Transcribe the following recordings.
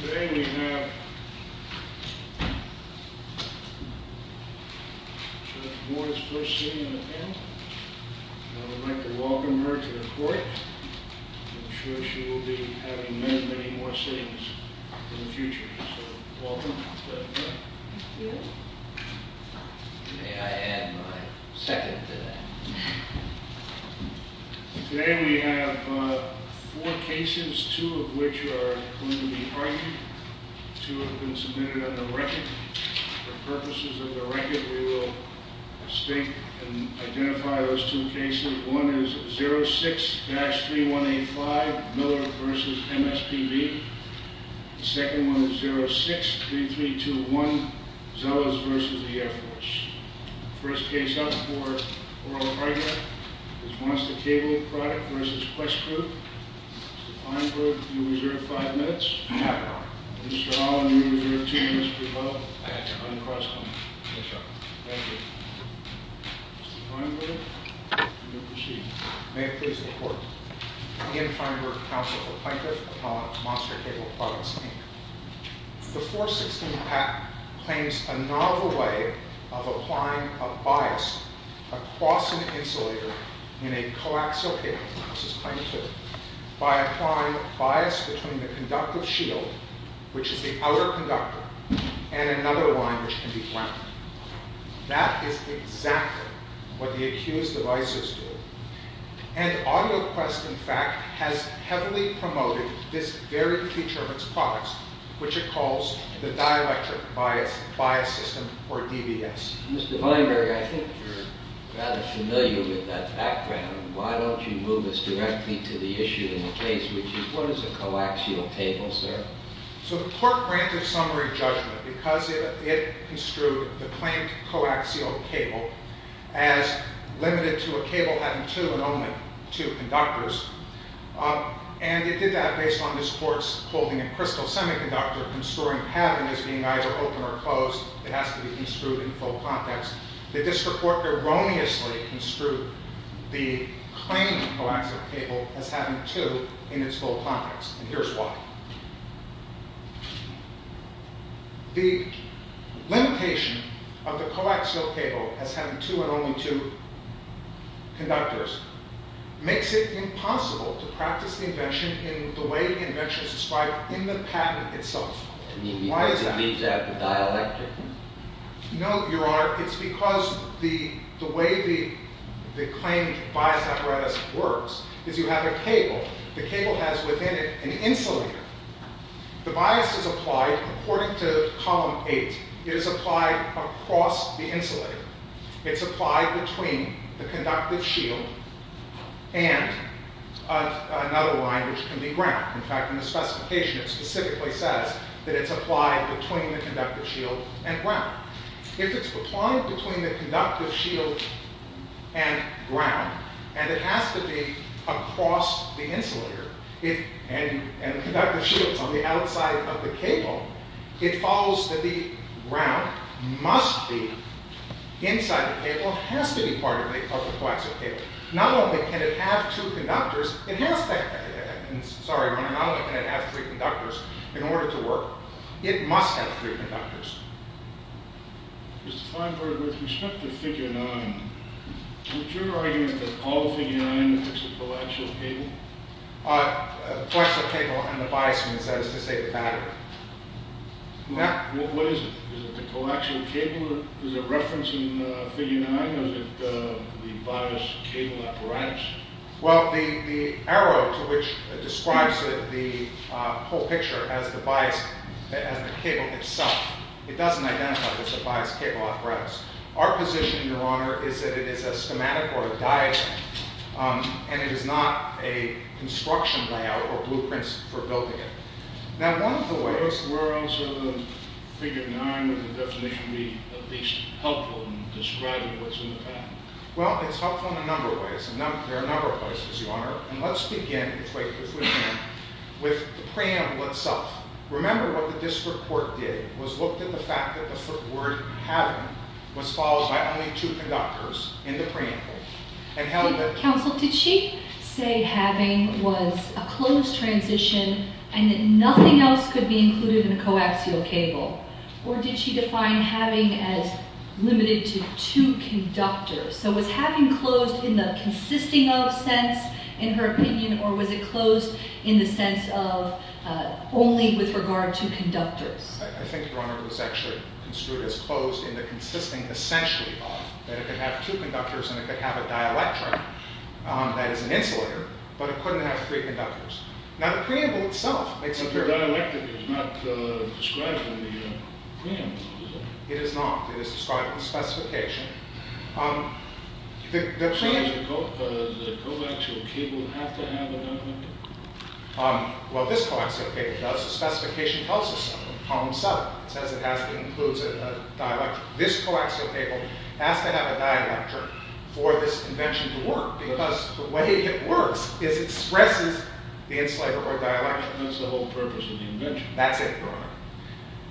Today we have George's first sitting on the panel. I'd like to welcome her to the court. I'm sure she will be having many, many more sittings in the future. So, welcome. Thank you. May I add my second to that? Today we have four cases, two of which are going to be argued. Two have been submitted on the record. For purposes of the record, we will state and identify those two cases. The first one is 06-3185, Miller v. MSPB. The second one is 06-3321, Zellers v. the Air Force. First case up for oral argument is Monster Cable Product v. Quest Group. Mr. Feinberg, you reserve five minutes. Mr. Allen, you reserve two minutes. Thank you. Mr. Feinberg, you may proceed. May it please the court. Ian Feinberg, counsel for plaintiff upon Monster Cable Products Inc. The 416 patent claims a novel way of applying a bias across an insulator in a coaxial cable, this is claim two, by applying bias between the conductive shield, which is the outer conductor, and another line which can be ground. That is exactly what the accused devices do. And AudioQuest, in fact, has heavily promoted this very feature of its products, which it calls the dielectric bias system, or DBS. Mr. Feinberg, I think you're rather familiar with that background. Why don't you move us directly to the issue in the case, which is what is a coaxial cable, sir? So the court granted summary judgment because it construed the claimed coaxial cable as limited to a cable having two and only two conductors. And it did that based on this court's holding a crystal semiconductor construing pattern as being either open or closed. It has to be construed in full context. The district court erroneously construed the claimed coaxial cable as having two in its full context, and here's why. The limitation of the coaxial cable as having two and only two conductors makes it impossible to practice the invention in the way the invention is described in the patent itself. Why is that? Because it leaves out the dielectric. No, Your Honor, it's because the way the claimed bias apparatus works is you have a cable. The cable has within it an insulator. The bias is applied according to column eight. It is applied across the insulator. It's applied between the conductive shield and another line, which can be ground. In fact, in the specification it specifically says that it's applied between the conductive shield and ground. If it's applied between the conductive shield and ground, and it has to be across the insulator, and the conductive shield's on the outside of the cable, it follows that the ground must be inside the cable and has to be part of the coaxial cable. Not only can it have three conductors in order to work, it must have three conductors. Mr. Feinberg, with respect to figure nine, would your argument that all figure nine is a coaxial cable? A coaxial cable and the bias means that is to say the battery. What is it? Is it the coaxial cable? Is it referenced in figure nine? Is it the bias cable apparatus? Well, the arrow to which describes the whole picture as the cable itself, it doesn't identify that it's a bias cable apparatus. Our position, Your Honor, is that it is a schematic or a diagram, and it is not a construction layout or blueprints for building it. Now, one of the ways... Where else other than figure nine would the definition be at least helpful in describing what's in the pattern? Well, it's helpful in a number of ways. There are a number of ways, Your Honor. And let's begin, if we can, with the preamble itself. Remember what the district court did was looked at the fact that the word having was followed by only two conductors in the preamble. Counsel, did she say having was a closed transition and that nothing else could be included in a coaxial cable? Or did she define having as limited to two conductors? So was having closed in the consisting of sense, in her opinion, or was it closed in the sense of only with regard to conductors? I think, Your Honor, it was actually construed as closed in the consisting essentially of that it could have two conductors, and it could have a dielectric that is an insulator, but it couldn't have three conductors. Now, the preamble itself makes a very... The dialectic is not described in the preamble, is it? It is not. It is described in the specification. So does the coaxial cable have to have a dielectric? Well, this coaxial cable does. The specification tells us so. Column 7 says it has to include a dielectric. This coaxial cable has to have a dielectric for this invention to work, because the way it works is it expresses the insulator or dielectric. That's the whole purpose of the invention. That's it, Your Honor.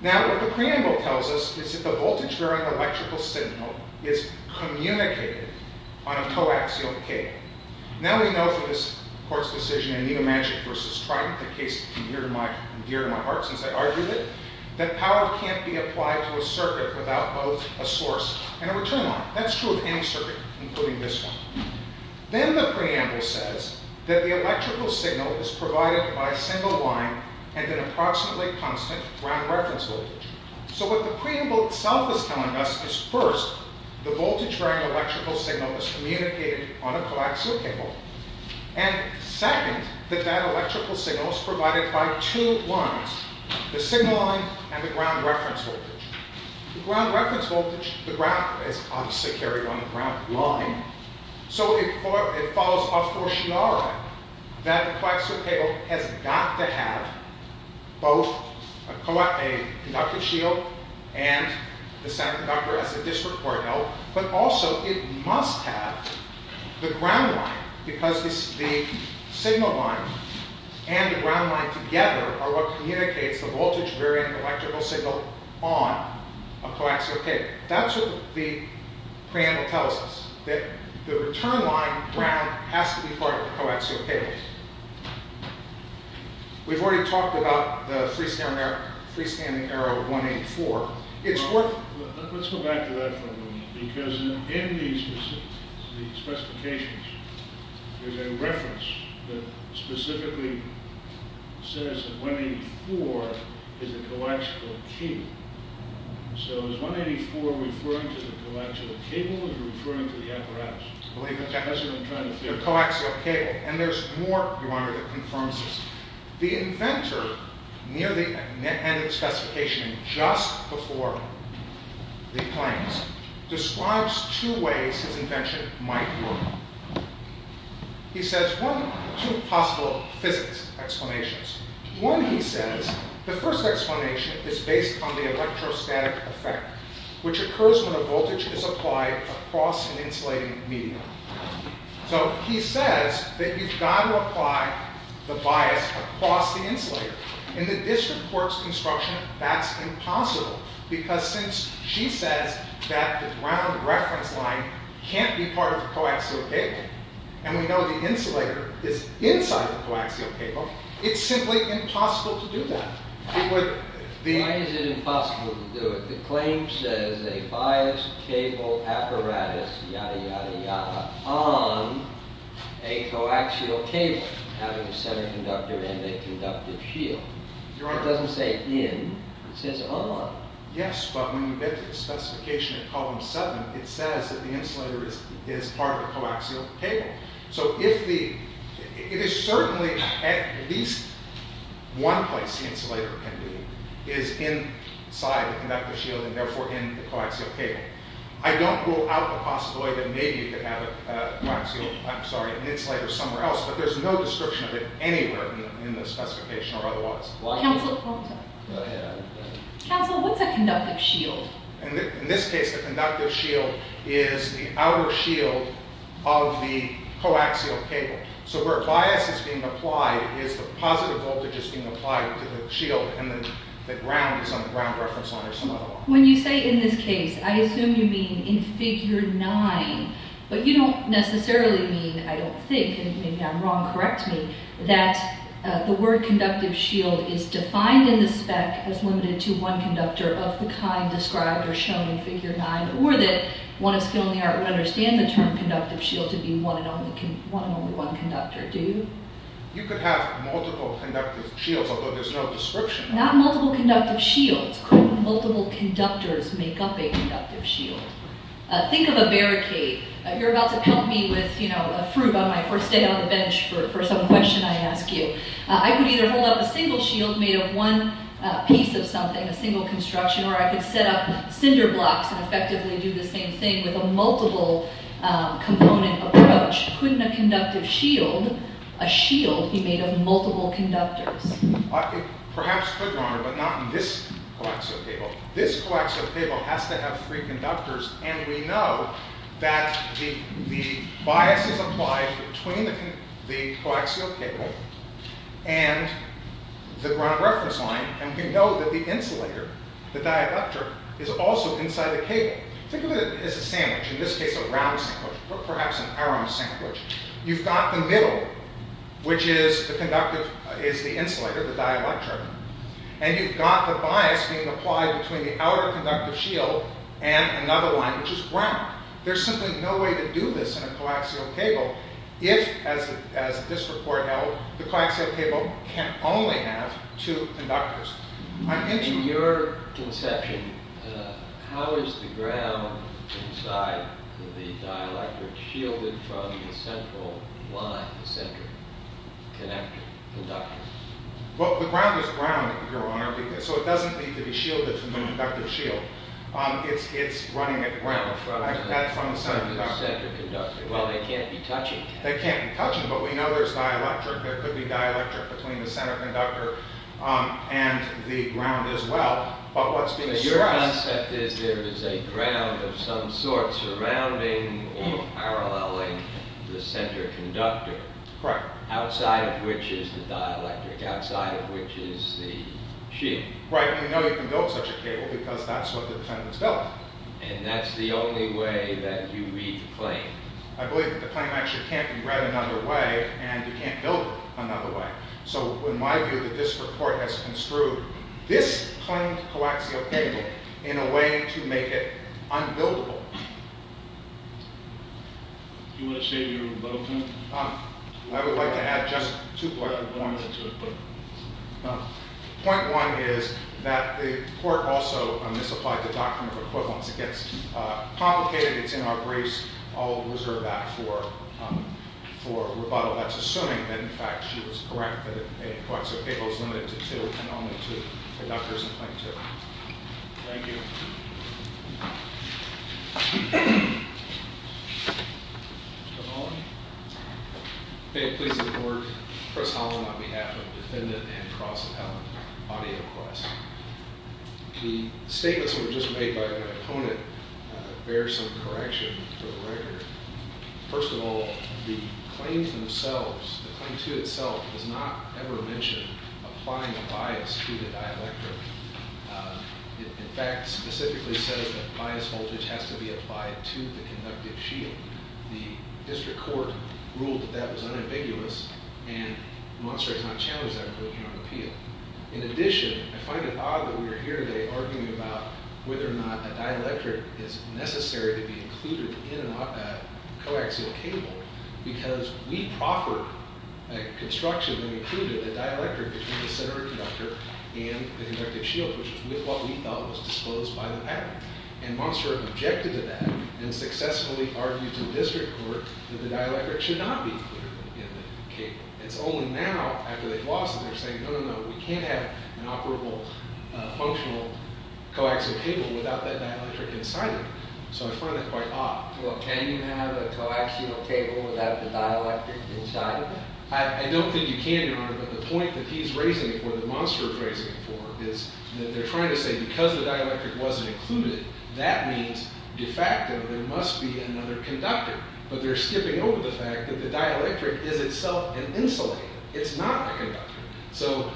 Now, what the preamble tells us is that the voltage-bearing electrical signal is communicated on a coaxial cable. Now, we know from this Court's decision in Newmanshire v. Triton, the case near and dear to my heart since I argued it, that power can't be applied to a circuit without both a source and a return line. That's true of any circuit, including this one. Then the preamble says that the electrical signal is provided by a single line and an approximately constant ground reference voltage. First, the voltage-bearing electrical signal is communicated on a coaxial cable. And second, that that electrical signal is provided by two lines, the single line and the ground reference voltage. The ground reference voltage, the ground is obviously carried on the ground line. So it follows a fortiora that a coaxial cable has got to have both a conductive shield and the conductor as a district cordial, but also it must have the ground line because the signal line and the ground line together are what communicates the voltage-bearing electrical signal on a coaxial cable. That's what the preamble tells us, that the return line, ground, has to be part of the coaxial cable. We've already talked about the freestanding error of 184. Let's go back to that for a moment. Because in the specifications, there's a reference that specifically says that 184 is a coaxial cable. So is 184 referring to the coaxial cable or is it referring to the apparatus? The coaxial cable. And there's more, Your Honor, that confirms this. The inventor, near the end of the specification, just before the claims, describes two ways his invention might work. He says, one, two possible physics explanations. One, he says, the first explanation is based on the electrostatic effect, which occurs when a voltage is applied across an insulating medium. So he says that you've got to apply the bias across the insulator. In the district court's construction, that's impossible because since she says that the ground reference line can't be part of the coaxial cable, and we know the insulator is inside the coaxial cable, it's simply impossible to do that. Why is it impossible to do it? The claim says a biased cable apparatus, yada, yada, yada, on a coaxial cable having a center conductor and a conductive shield. Your Honor. It doesn't say in. It says on. Yes, but when you get to the specification in column seven, it says that the insulator is part of the coaxial cable. So it is certainly at least one place the insulator can be, is inside the conductive shield and therefore in the coaxial cable. I don't rule out the possibility that maybe you could have a coaxial, I'm sorry, an insulator somewhere else, but there's no description of it anywhere in the specification or otherwise. Counsel, what's a conductive shield? In this case, the conductive shield is the outer shield of the coaxial cable. So where bias is being applied is the positive voltage is being applied to the shield and the ground is on the ground reference line or some other line. When you say in this case, I assume you mean in figure nine, but you don't necessarily mean, I don't think, and maybe I'm wrong, correct me, that the word conductive shield is defined in the spec as limited to one conductor of the kind described or shown in figure nine or that one of skill in the art would understand the term conductive shield to be one and only one conductor. Do you? You could have multiple conductive shields, although there's no description. Not multiple conductive shields. Multiple conductors make up a conductive shield. Think of a barricade. You're about to pelt me with a fruit on my first day on the bench for some question I ask you. I could either hold up a single shield made of one piece of something, a single construction, or I could set up cinder blocks and effectively do the same thing with a multiple component approach. Couldn't a conductive shield, a shield he made of multiple conductors? Perhaps could, Your Honor, but not in this coaxial cable. This coaxial cable has to have three conductors, and we know that the bias is applied between the coaxial cable and the ground reference line, and we know that the insulator, the dielectric, is also inside the cable. Think of it as a sandwich. In this case, a round sandwich or perhaps an arrow sandwich. You've got the middle, which is the insulator, the dielectric, and you've got the bias being applied between the outer conductive shield and another line, which is ground. There's simply no way to do this in a coaxial cable if, as this report held, the coaxial cable can only have two conductors. In your conception, how is the ground inside the dielectric shielded from the central line, the center conductor? Well, the ground is ground, Your Honor, so it doesn't need to be shielded from the conductive shield. It's running at ground. That's from the center conductor. Well, they can't be touching. They can't be touching, but we know there's dielectric. There could be dielectric between the center conductor and the ground as well. Your concept is there is a ground of some sort surrounding or paralleling the center conductor, outside of which is the dielectric, outside of which is the shield. Right, and we know you can build such a cable because that's what the defendants built. And that's the only way that you read the claim. I believe that the claim actually can't be read another way, and you can't build it another way. So in my view, that this report has construed this claimed coaxial cable in a way to make it unbuildable. Do you want to say your vote, then? I would like to add just two points. Point one is that the court also misapplied the doctrine of equivalence. It gets complicated. It's in our briefs. I'll reserve that for rebuttal. That's assuming that, in fact, she was correct that a coaxial cable is limited to two and only two conductors in claim two. Thank you. Mr. Holland? May it please the Court, Chris Holland on behalf of the defendant and cross-appellant, AudioQuest. The statements that were just made by the opponent bear some correction for the record. First of all, the claim themselves, the claim to itself, does not ever mention applying a bias to the dielectric. It, in fact, specifically says that bias voltage has to be applied to the conductive shield. The district court ruled that that was unambiguous, and Monster has not challenged that in her appeal. In addition, I find it odd that we are here today arguing about whether or not a dielectric is necessary to be included in a coaxial cable because we proffered a construction that actually included a dielectric between the center conductor and the conductive shield, which is what we thought was disclosed by the patent. And Monster objected to that and successfully argued to the district court that the dielectric should not be included in the cable. It's only now, after they've lost it, that they're saying, no, no, no, we can't have an operable functional coaxial cable without that dielectric inside of it. So I find that quite odd. Well, can you have a coaxial cable without the dielectric inside of it? I don't think you can, Your Honor, but the point that he's raising, or that Monster is raising it for, is that they're trying to say because the dielectric wasn't included, that means, de facto, there must be another conductor. But they're skipping over the fact that the dielectric is itself an insulator. It's not a conductor. So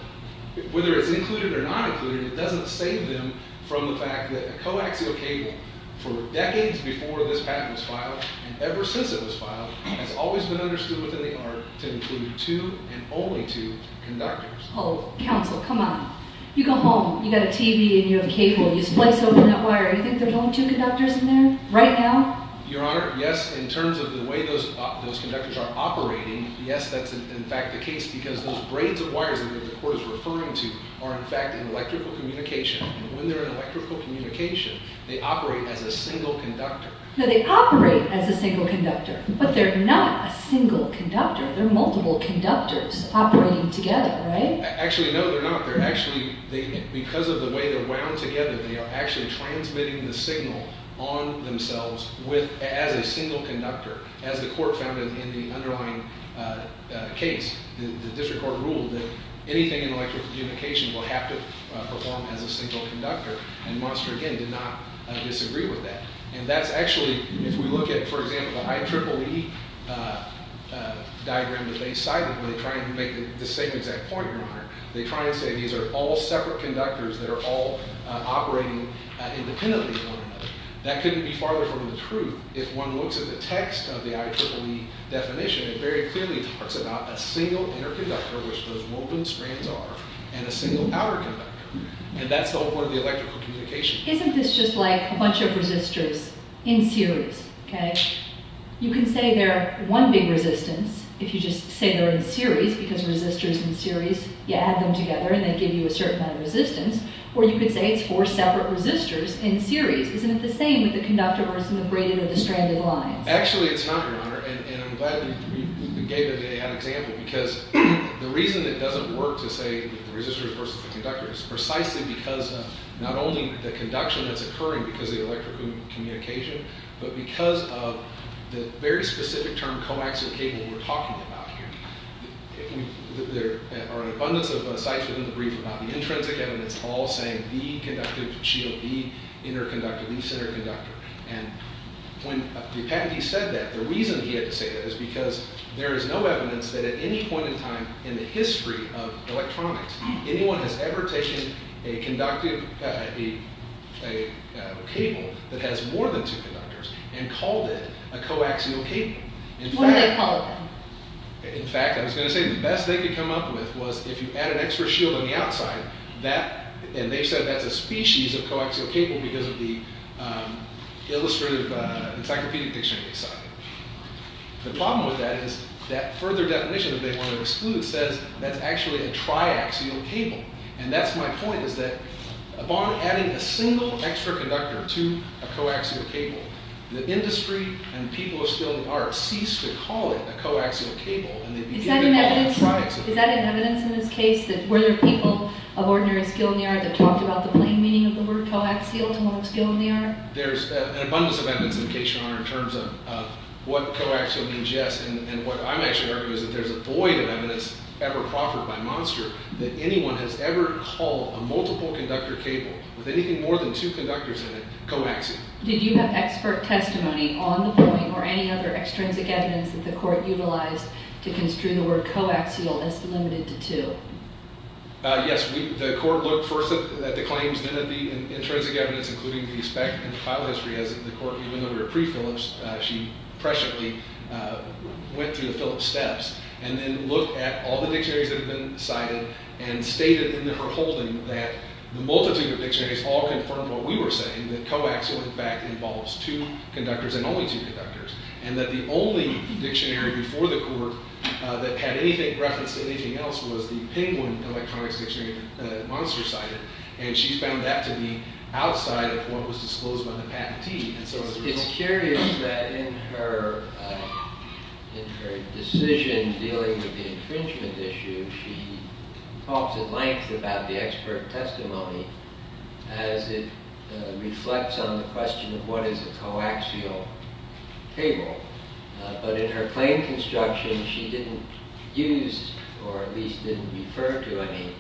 whether it's included or not included, it doesn't save them from the fact that a coaxial cable, for decades before this patent was filed, and ever since it was filed, has always been understood within the art to include two and only two conductors. Oh, counsel, come on. You go home, you've got a TV, and you have a cable, and you splice open that wire, and you think there's only two conductors in there? Right now? Your Honor, yes, in terms of the way those conductors are operating, yes, that's in fact the case because those braids of wires that the court is referring to are, in fact, in electrical communication. And when they're in electrical communication, they operate as a single conductor. No, they operate as a single conductor, but they're not a single conductor. They're multiple conductors operating together, right? Actually, no, they're not. They're actually, because of the way they're wound together, they are actually transmitting the signal on themselves as a single conductor, as the court found in the underlying case. The district court ruled that anything in electrical communication will have to perform as a single conductor, and Monster, again, did not disagree with that. And that's actually, if we look at, for example, the IEEE diagram that they cited, where they try and make the same exact point, Your Honor, they try and say these are all separate conductors that are all operating independently of one another. That couldn't be farther from the truth. If one looks at the text of the IEEE definition, it very clearly talks about a single inner conductor, which those woven strands are, and a single outer conductor, and that's the whole point of the electrical communication. Isn't this just like a bunch of resistors in series, okay? You can say they're one big resistance, if you just say they're in series, because resistors in series, you add them together, and they give you a certain amount of resistance, or you could say it's four separate resistors in series. Isn't it the same with the conductor versus the braided or the stranded lines? Actually, it's not, Your Honor, and I'm glad you gave it an example, because the reason it doesn't work to say resistors versus the conductor is precisely because not only the conduction that's occurring because of the electrical communication, but because of the very specific term coaxial cable we're talking about here. There are an abundance of sites within the brief about the intrinsic evidence all saying the conductive shield, the inner conductor, the center conductor, and when the patentee said that, the reason he had to say that is because there is no evidence that at any point in time in the history of electronics, anyone has ever taken a conductive cable that has more than two conductors and called it a coaxial cable. What did they call it then? In fact, I was going to say the best they could come up with was if you add an extra shield on the outside, and they said that's a species of coaxial cable because of the illustrative encyclopedic dictionary they cited. The problem with that is that further definition that they want to exclude says that's actually a triaxial cable, and that's my point is that upon adding a single extra conductor to a coaxial cable, the industry and people of steel and art cease to call it a coaxial cable, and they begin to call it a triaxial cable. Is that an evidence in this case that where there are people of ordinary skill in the art that talked about the plain meaning of the word coaxial to one of skill in the art? There's an abundance of evidence in case you're wondering in terms of what coaxial means, yes, and what I'm actually arguing is that there's a void of evidence ever proffered by Monster that anyone has ever called a multiple conductor cable with anything more than two conductors in it coaxial. Did you have expert testimony on the point or any other extrinsic evidence that the court utilized to construe the word coaxial as delimited to two? Yes, the court looked first at the claims, then at the intrinsic evidence, including the spec and the file history, as the court, even though they were pre-Phillips, she presciently went through the Phillips steps and then looked at all the dictionaries that had been cited and stated in her holding that the multitude of dictionaries all confirmed what we were saying, that coaxial, in fact, involves two conductors and only two conductors, and that the only dictionary before the court that had anything reference to anything else was the Penguin Electronics Dictionary that Monster cited, and she found that to be outside of what was disclosed by the patentee. It's curious that in her decision dealing with the infringement issue, she talks at length about the expert testimony as it reflects on the question of what is a coaxial table, but in her claim construction, she didn't use or at least didn't refer to any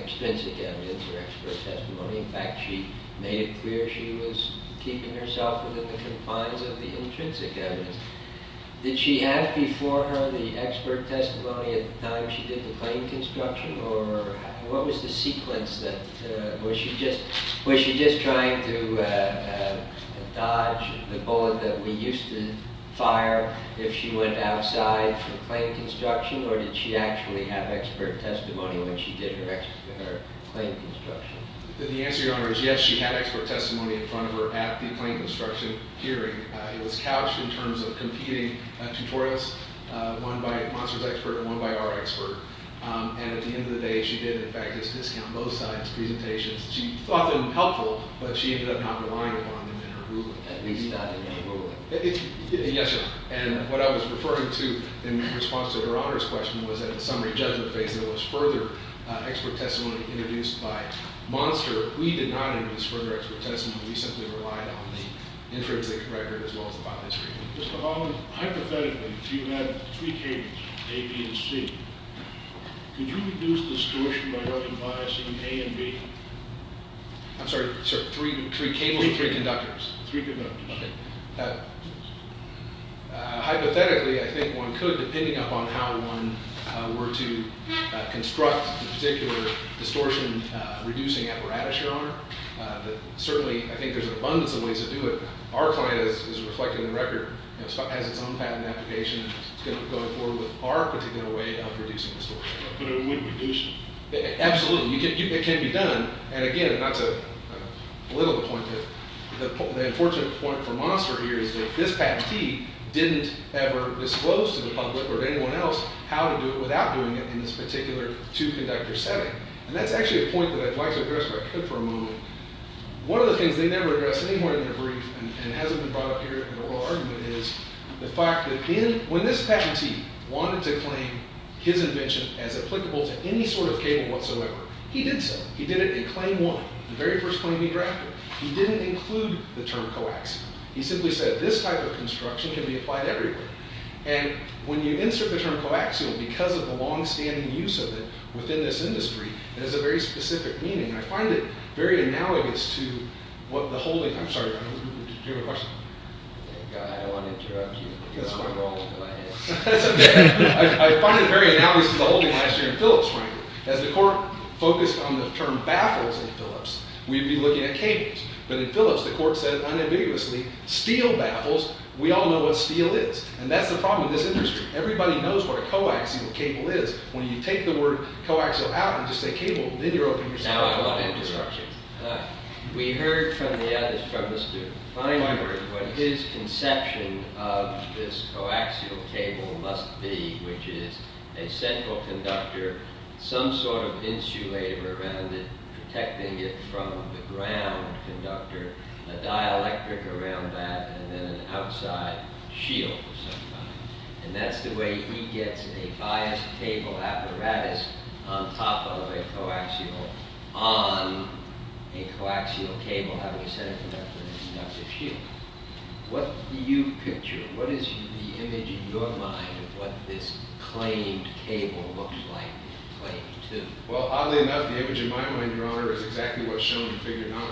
extrinsic evidence or expert testimony. In fact, she made it clear she was keeping herself within the compliance of the intrinsic evidence. Did she have before her the expert testimony at the time she did the claim construction, or what was the sequence? Was she just trying to dodge the bullet that we used to fire if she went outside for claim construction, or did she actually have expert testimony when she did her claim construction? The answer, Your Honor, is yes, she had expert testimony in front of her at the claim construction hearing. It was couched in terms of competing tutorials, one by Monster's expert and one by our expert. And at the end of the day, she did in fact just discount both sides' presentations. She thought them helpful, but she ended up not relying upon them in her ruling. At least not in her ruling. Yes, sir. And what I was referring to in response to Your Honor's question was that in the summary judgment phase there was further expert testimony introduced by Monster. We did not introduce further expert testimony. We simply relied on the intrinsic record as well as the file history. Mr. Holland, hypothetically, if you had three cables, A, B, and C, could you reduce distortion by recognizing A and B? I'm sorry, sir. Three cables and three conductors. Three conductors. Okay. Hypothetically, I think one could, depending upon how one were to construct the particular distortion reducing apparatus, Your Honor. Certainly, I think there's an abundance of ways to do it. Our client is reflecting the record. It has its own patent application. It's going to go forward with our particular way of reducing distortion. But it would reduce it. Absolutely. It can be done. And again, not to belittle the point, but the unfortunate point for Monster here is that this patentee didn't ever disclose to the public or to anyone else how to do it without doing it in this particular two-conductor setting. And that's actually a point that I'd like to address for a moment. One of the things they never address anymore in their brief, and it hasn't been brought up here in an oral argument, is the fact that when this patentee wanted to claim his invention as applicable to any sort of cable whatsoever, he did so. He did it in claim one, the very first claim he drafted. He didn't include the term coaxial. He simply said, this type of construction can be applied everywhere. And when you insert the term coaxial, because of the longstanding use of it within this industry, it has a very specific meaning. And I find it very analogous to what the holding, I'm sorry, did you have a question? I want to interrupt you. That's fine. I find it very analogous to the holding last year in Phillips, frankly. As the court focused on the term baffles in Phillips, we'd be looking at cables. But in Phillips, the court said unambiguously, steel baffles, we all know what steel is. And that's the problem with this industry. Everybody knows what a coaxial cable is. When you take the word coaxial out and just say cable, then you're opening yourself up to other constructions. We heard from the other, from Mr. Feinberg, what his conception of this coaxial cable must be, which is a central conductor, some sort of insulator around it, protecting it from the ground conductor, a dielectric around that, and then an outside shield of some kind. And that's the way he gets a biased cable apparatus on top of a coaxial, on a coaxial cable, how we said it in reference to the inductive shield. What do you picture? What is the image in your mind of what this claimed cable looks like, claimed to? Well, oddly enough, the image in my mind, Your Honor, is exactly what's shown in Figure 9.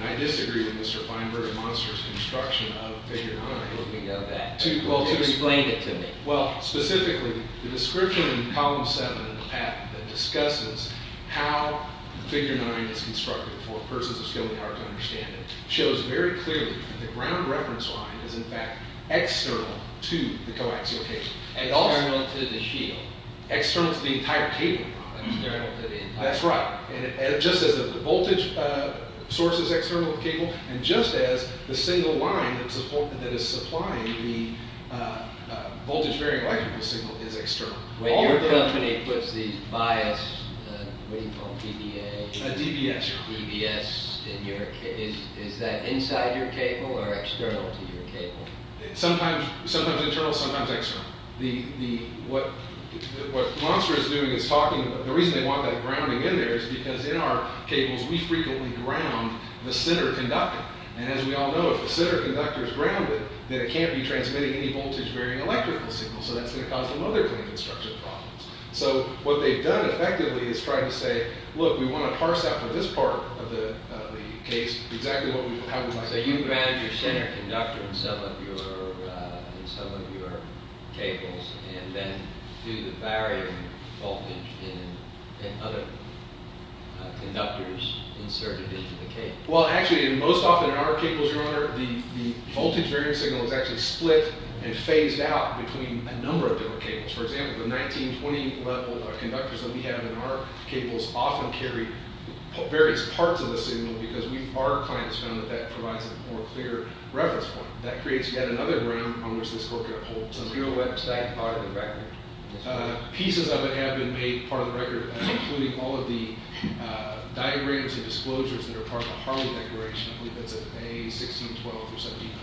And I disagree with Mr. Feinberg and Monster's construction of Figure 9. Let me go back. You explained it to me. Well, specifically, the description in Column 7 of the patent that discusses how the Figure 9 is constructed for persons of skill and power to understand it, shows very clearly that the ground reference line is, in fact, external to the coaxial cable. External to the shield. External to the entire cable. External to the entire cable. That's right. And just as the voltage source is external to the cable, and just as the single line that is supplying the voltage-varying electrical signal is external. When your company puts these bias, what do you call them, DBAs? DBS. DBS. Is that inside your cable or external to your cable? Sometimes internal, sometimes external. What Monster is doing is talking about, the reason they want that grounding in there is because in our cables, we frequently ground the center conductor. And as we all know, if the center conductor is grounded, then it can't be transmitting any voltage-varying electrical signal. So that's going to cause some other kind of construction problems. So what they've done effectively is trying to say, look, we want to parse out for this part of the case exactly how we like it. So you ground your center conductor in some of your cables, and then do the varying voltage in other conductors inserted into the cable. Well, actually, most often in our cables, your honor, the voltage-varying signal is actually split and phased out between a number of different cables. For example, the 1920-level conductors that we have in our cables often carry various parts of the signal, because our clients found that that provides a more clear reference point. That creates yet another ground on which this core can uphold. So here's a website. You can find it in the back there. Pieces of it have been made part of the record, including all of the diagrams and disclosures that are part of the Harley Declaration. I believe that's a 1612 for 1700.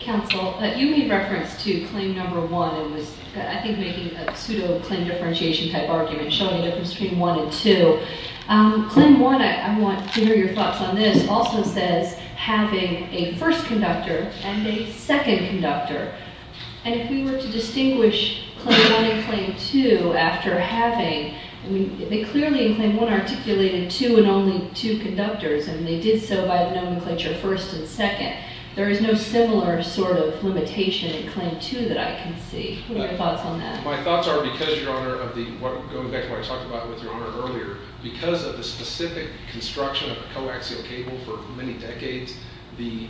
Counsel, you made reference to claim number one. It was, I think, making a pseudo-Clinton differentiation type argument, showing a difference between one and two. Claim one, I want to hear your thoughts on this, also says having a first conductor and a second conductor. And if we were to distinguish claim one and claim two after having, they clearly, in claim one, articulated two and only two conductors. And they did so by nomenclature first and second. There is no similar sort of limitation in claim two that I can see. What are your thoughts on that? My thoughts are because, Your Honor, of the, going back to what I talked about with Your Honor earlier, because of the specific construction of a coaxial cable for many decades, the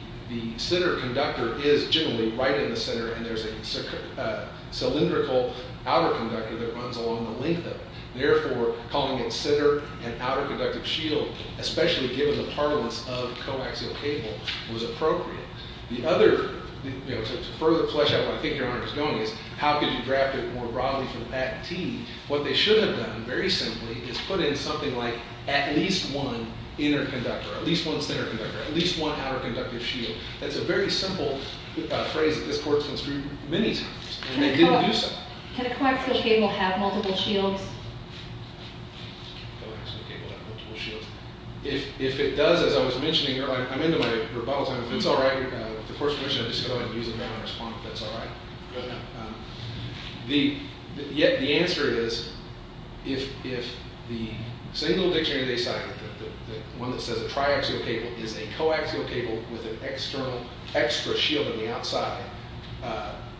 center conductor is generally right in the center. And there's a cylindrical outer conductor that runs along the length of it. Therefore, calling it center and outer conductive shield, especially given the parlance of coaxial cable, was appropriate. The other, to further flesh out where I think Your Honor is going is, how could you draft it more broadly from that T? What they should have done, very simply, is put in something like, at least one inner conductor, at least one center conductor, at least one outer conductive shield. That's a very simple phrase that this court's been through many times. And they didn't do so. Can a coaxial cable have multiple shields? Can a coaxial cable have multiple shields? If it does, as I was mentioning, Your Honor, I'm into my rebuttal time. If it's all right, the court's permission, I'll just go ahead and use it now and respond if that's all right. Yet the answer is, if the single dictionary they cite, the one that says a triaxial cable, is a coaxial cable with an external, extra shield on the outside,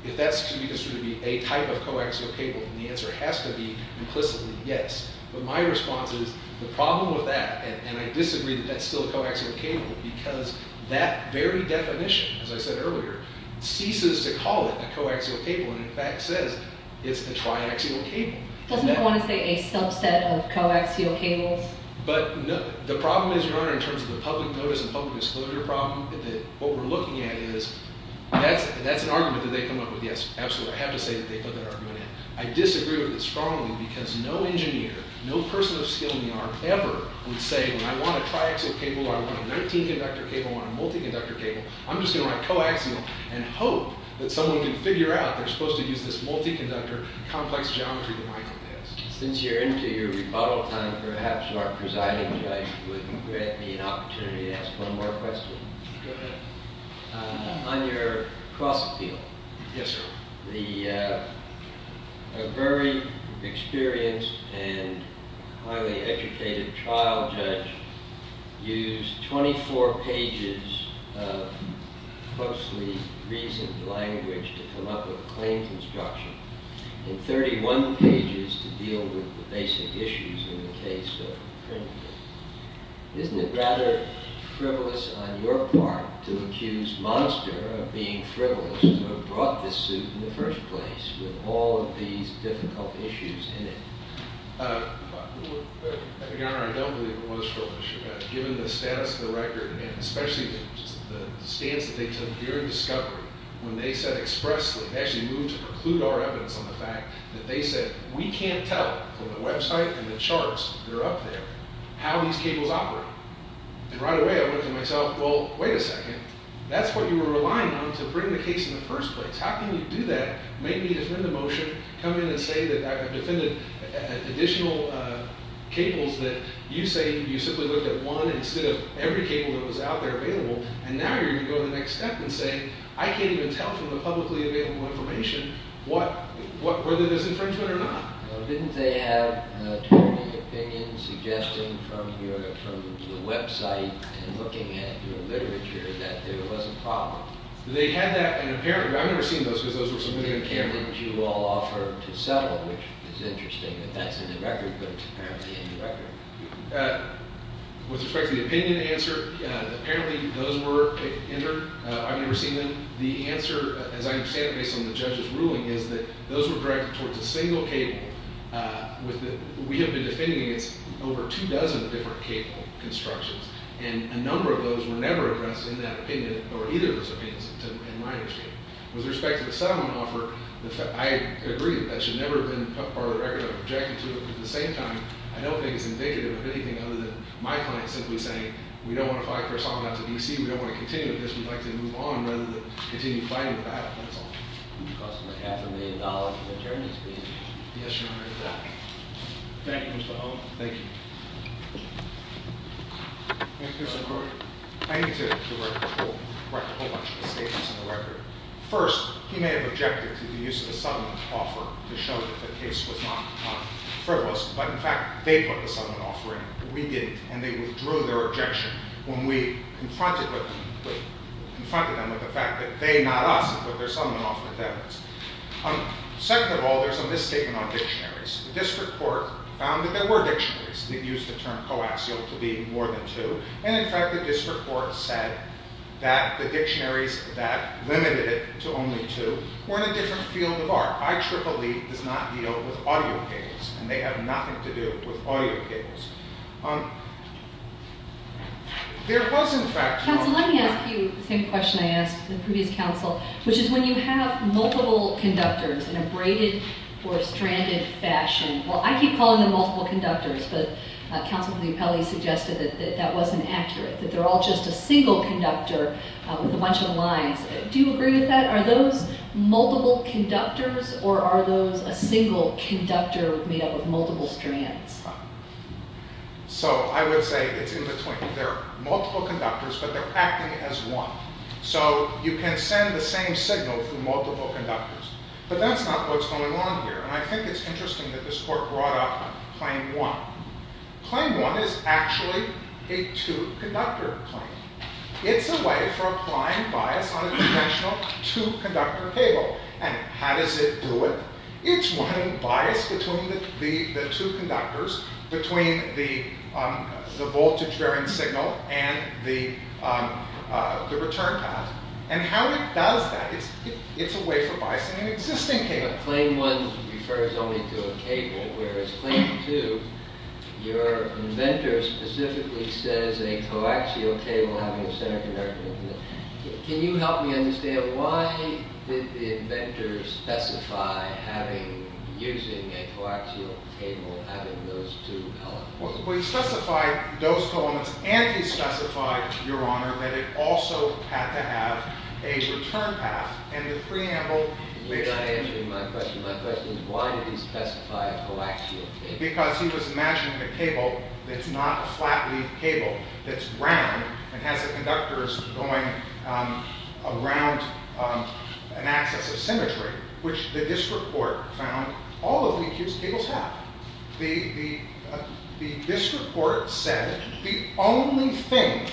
if that's to be construed to be a type of coaxial cable, then the answer has to be, implicitly, yes. But my response is, the problem with that, and I disagree that that's still a coaxial cable, because that very definition, as I said earlier, ceases to call it a coaxial cable, and in fact says it's a triaxial cable. Doesn't it want to say a subset of coaxial cables? But the problem is, Your Honor, in terms of the public notice and public disclosure problem, that what we're looking at is, that's an argument that they come up with, yes, absolutely. So I have to say that they put that argument in. I disagree with it strongly, because no engineer, no person of skill in the art ever would say, when I want a triaxial cable, or I want a 19-conductor cable, or I want a multi-conductor cable, I'm just going to write coaxial, and hope that someone can figure out they're supposed to use this multi-conductor, complex geometry that Michael has. Since you're into your rebuttal time, perhaps your presiding judge would grant me an opportunity to ask one more question. Go ahead. On your cross-appeal. Yes, sir. A very experienced and highly educated trial judge used 24 pages of closely reasoned language to come up with a claim construction, and 31 pages to deal with the basic issues in the case of Kringle. Isn't it rather frivolous on your part to accuse Monster of being frivolous, to have brought this suit in the first place, with all of these difficult issues in it? Your Honor, I don't believe it was frivolous. Given the status of the record, and especially the stance that they took during discovery, when they said expressly, they actually moved to preclude our evidence on the fact that they said, we can't tell from the website and the charts that are up there, how these cables operate. And right away, I went to myself, well, wait a second. That's what you were relying on to bring the case in the first place. How can you do that? Make me defend the motion, come in and say that I've defended additional cables that you say you simply looked at one instead of every cable that was out there available. And now you're going to go to the next step and say, I can't even tell from the publicly available information whether there's infringement or not. Well, didn't they have attorney opinions suggesting from the website and looking at your literature that there was a problem? They had that. And apparently, I've never seen those, because those were submitted on camera. The cable that you all offered to settle, which is interesting that that's in the record, but it's apparently in the record. With respect to the opinion answer, apparently those were entered. I've never seen them. The answer, as I understand it, based on the judge's ruling, is that those were directed towards a single cable. We have been defending over two dozen different cable constructions. And a number of those were never addressed in that opinion or either of those opinions, in my understanding. With respect to the settlement offer, I agree that that should never have been part of the record. I've objected to it. But at the same time, I don't think it's indicative of anything other than my client simply saying, we don't want to fight for asylum out to DC. We don't want to continue with this. We'd like to move on rather than continue fighting for that. That's all. It would cost him a half a million dollars in attorney's fees. Yes, Your Honor. Exactly. Thank you, Mr. Holland. Thank you. Thank you, sir. I need to write a whole bunch of statements in the record. First, he may have objected to the use of a settlement offer to show that the case was not frivolous. But in fact, they put the settlement offer in. We didn't. And they withdrew their objection. When we confronted them with the fact that they, not us, put their settlement offer to them. Second of all, there's a misstatement on dictionaries. The district court found that there were dictionaries that used the term coaxial to be more than two. And in fact, the district court said that the dictionaries that limited it to only two were in a different field of art. IEEE does not deal with audio cables. And they have nothing to do with audio cables. There was, in fact, a- Counsel, let me ask you the same question I asked the previous counsel, which is when you have multiple conductors in a braided or stranded fashion. Well, I keep calling them multiple conductors. But Counsel for the Appellee suggested that that wasn't accurate. That they're all just a single conductor with a bunch of lines. Do you agree with that? Are those multiple conductors? Or are those a single conductor made up of multiple strands? So I would say it's in between. They're multiple conductors, but they're acting as one. So you can send the same signal through multiple conductors. But that's not what's going on here. And I think it's interesting that this court brought up claim one. Claim one is actually a two-conductor claim. It's a way for applying bias on a conventional two-conductor cable. And how does it do it? It's running bias between the two conductors, between the voltage-bearing signal and the return path. And how it does that, it's a way for biasing an existing cable. But claim one refers only to a cable, whereas claim two, your inventor specifically says a coaxial cable having a center conductor. Can you help me understand, why did the inventor specify using a coaxial cable having those two elements? Well, he specified those two elements, and he specified, your honor, that it also had to have a return path. And the preamble, which- You're not answering my question. My question is, why did he specify a coaxial cable? Because he was imagining a cable that's not a flat-leaf cable that's round and has the conductors going around an axis of symmetry, which the district court found all of the accused cables have. The district court said the only thing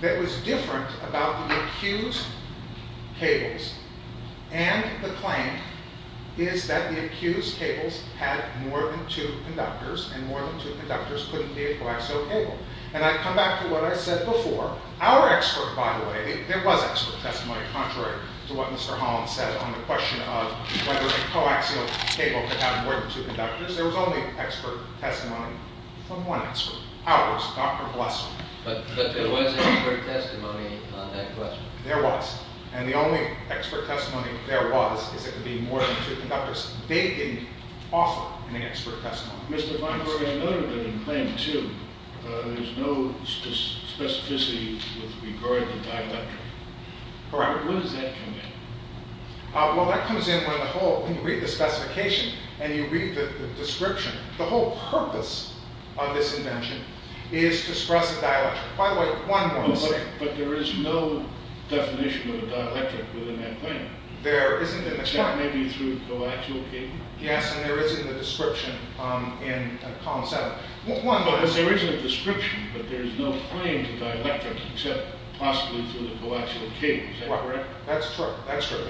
that was different about the accused cables and the claim is that the accused cables had more than two conductors, and more than two conductors couldn't be a coaxial cable. And I come back to what I said before. Our expert, by the way, there was expert testimony, contrary to what Mr. Holland said, on the question of whether a coaxial cable could have more than two conductors. There was only expert testimony from one expert. Ours. Dr. Blesser. But there was expert testimony on that question. There was. And the only expert testimony there was is it could be more than two conductors. They didn't offer any expert testimony. Mr. Vineberg, I noted in claim two, there's no specificity with regard to dielectric. Correct. When does that come in? Well, that comes in when you read the specification and you read the description. The whole purpose of this invention is to suppress the dielectric. By the way, one more thing. But there is no definition of dielectric within that claim. There isn't in the claim. Maybe through coaxial cable? Yes, and there is in the description in column seven. But there isn't a description that there is no claim to dielectric except possibly through the coaxial cable. Is that correct? That's true. That's true.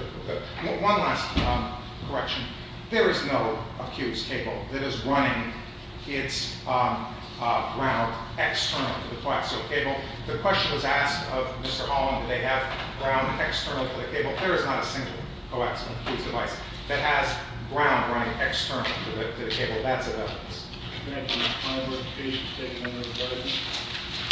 One last correction. There is no accused cable that is running its ground external to the coaxial cable. The question was asked of Mr. Holland, do they have ground external to the cable? There is not a single coaxial device that has ground running external to the cable. That's a difference. Thank you. Thank you. Thank you.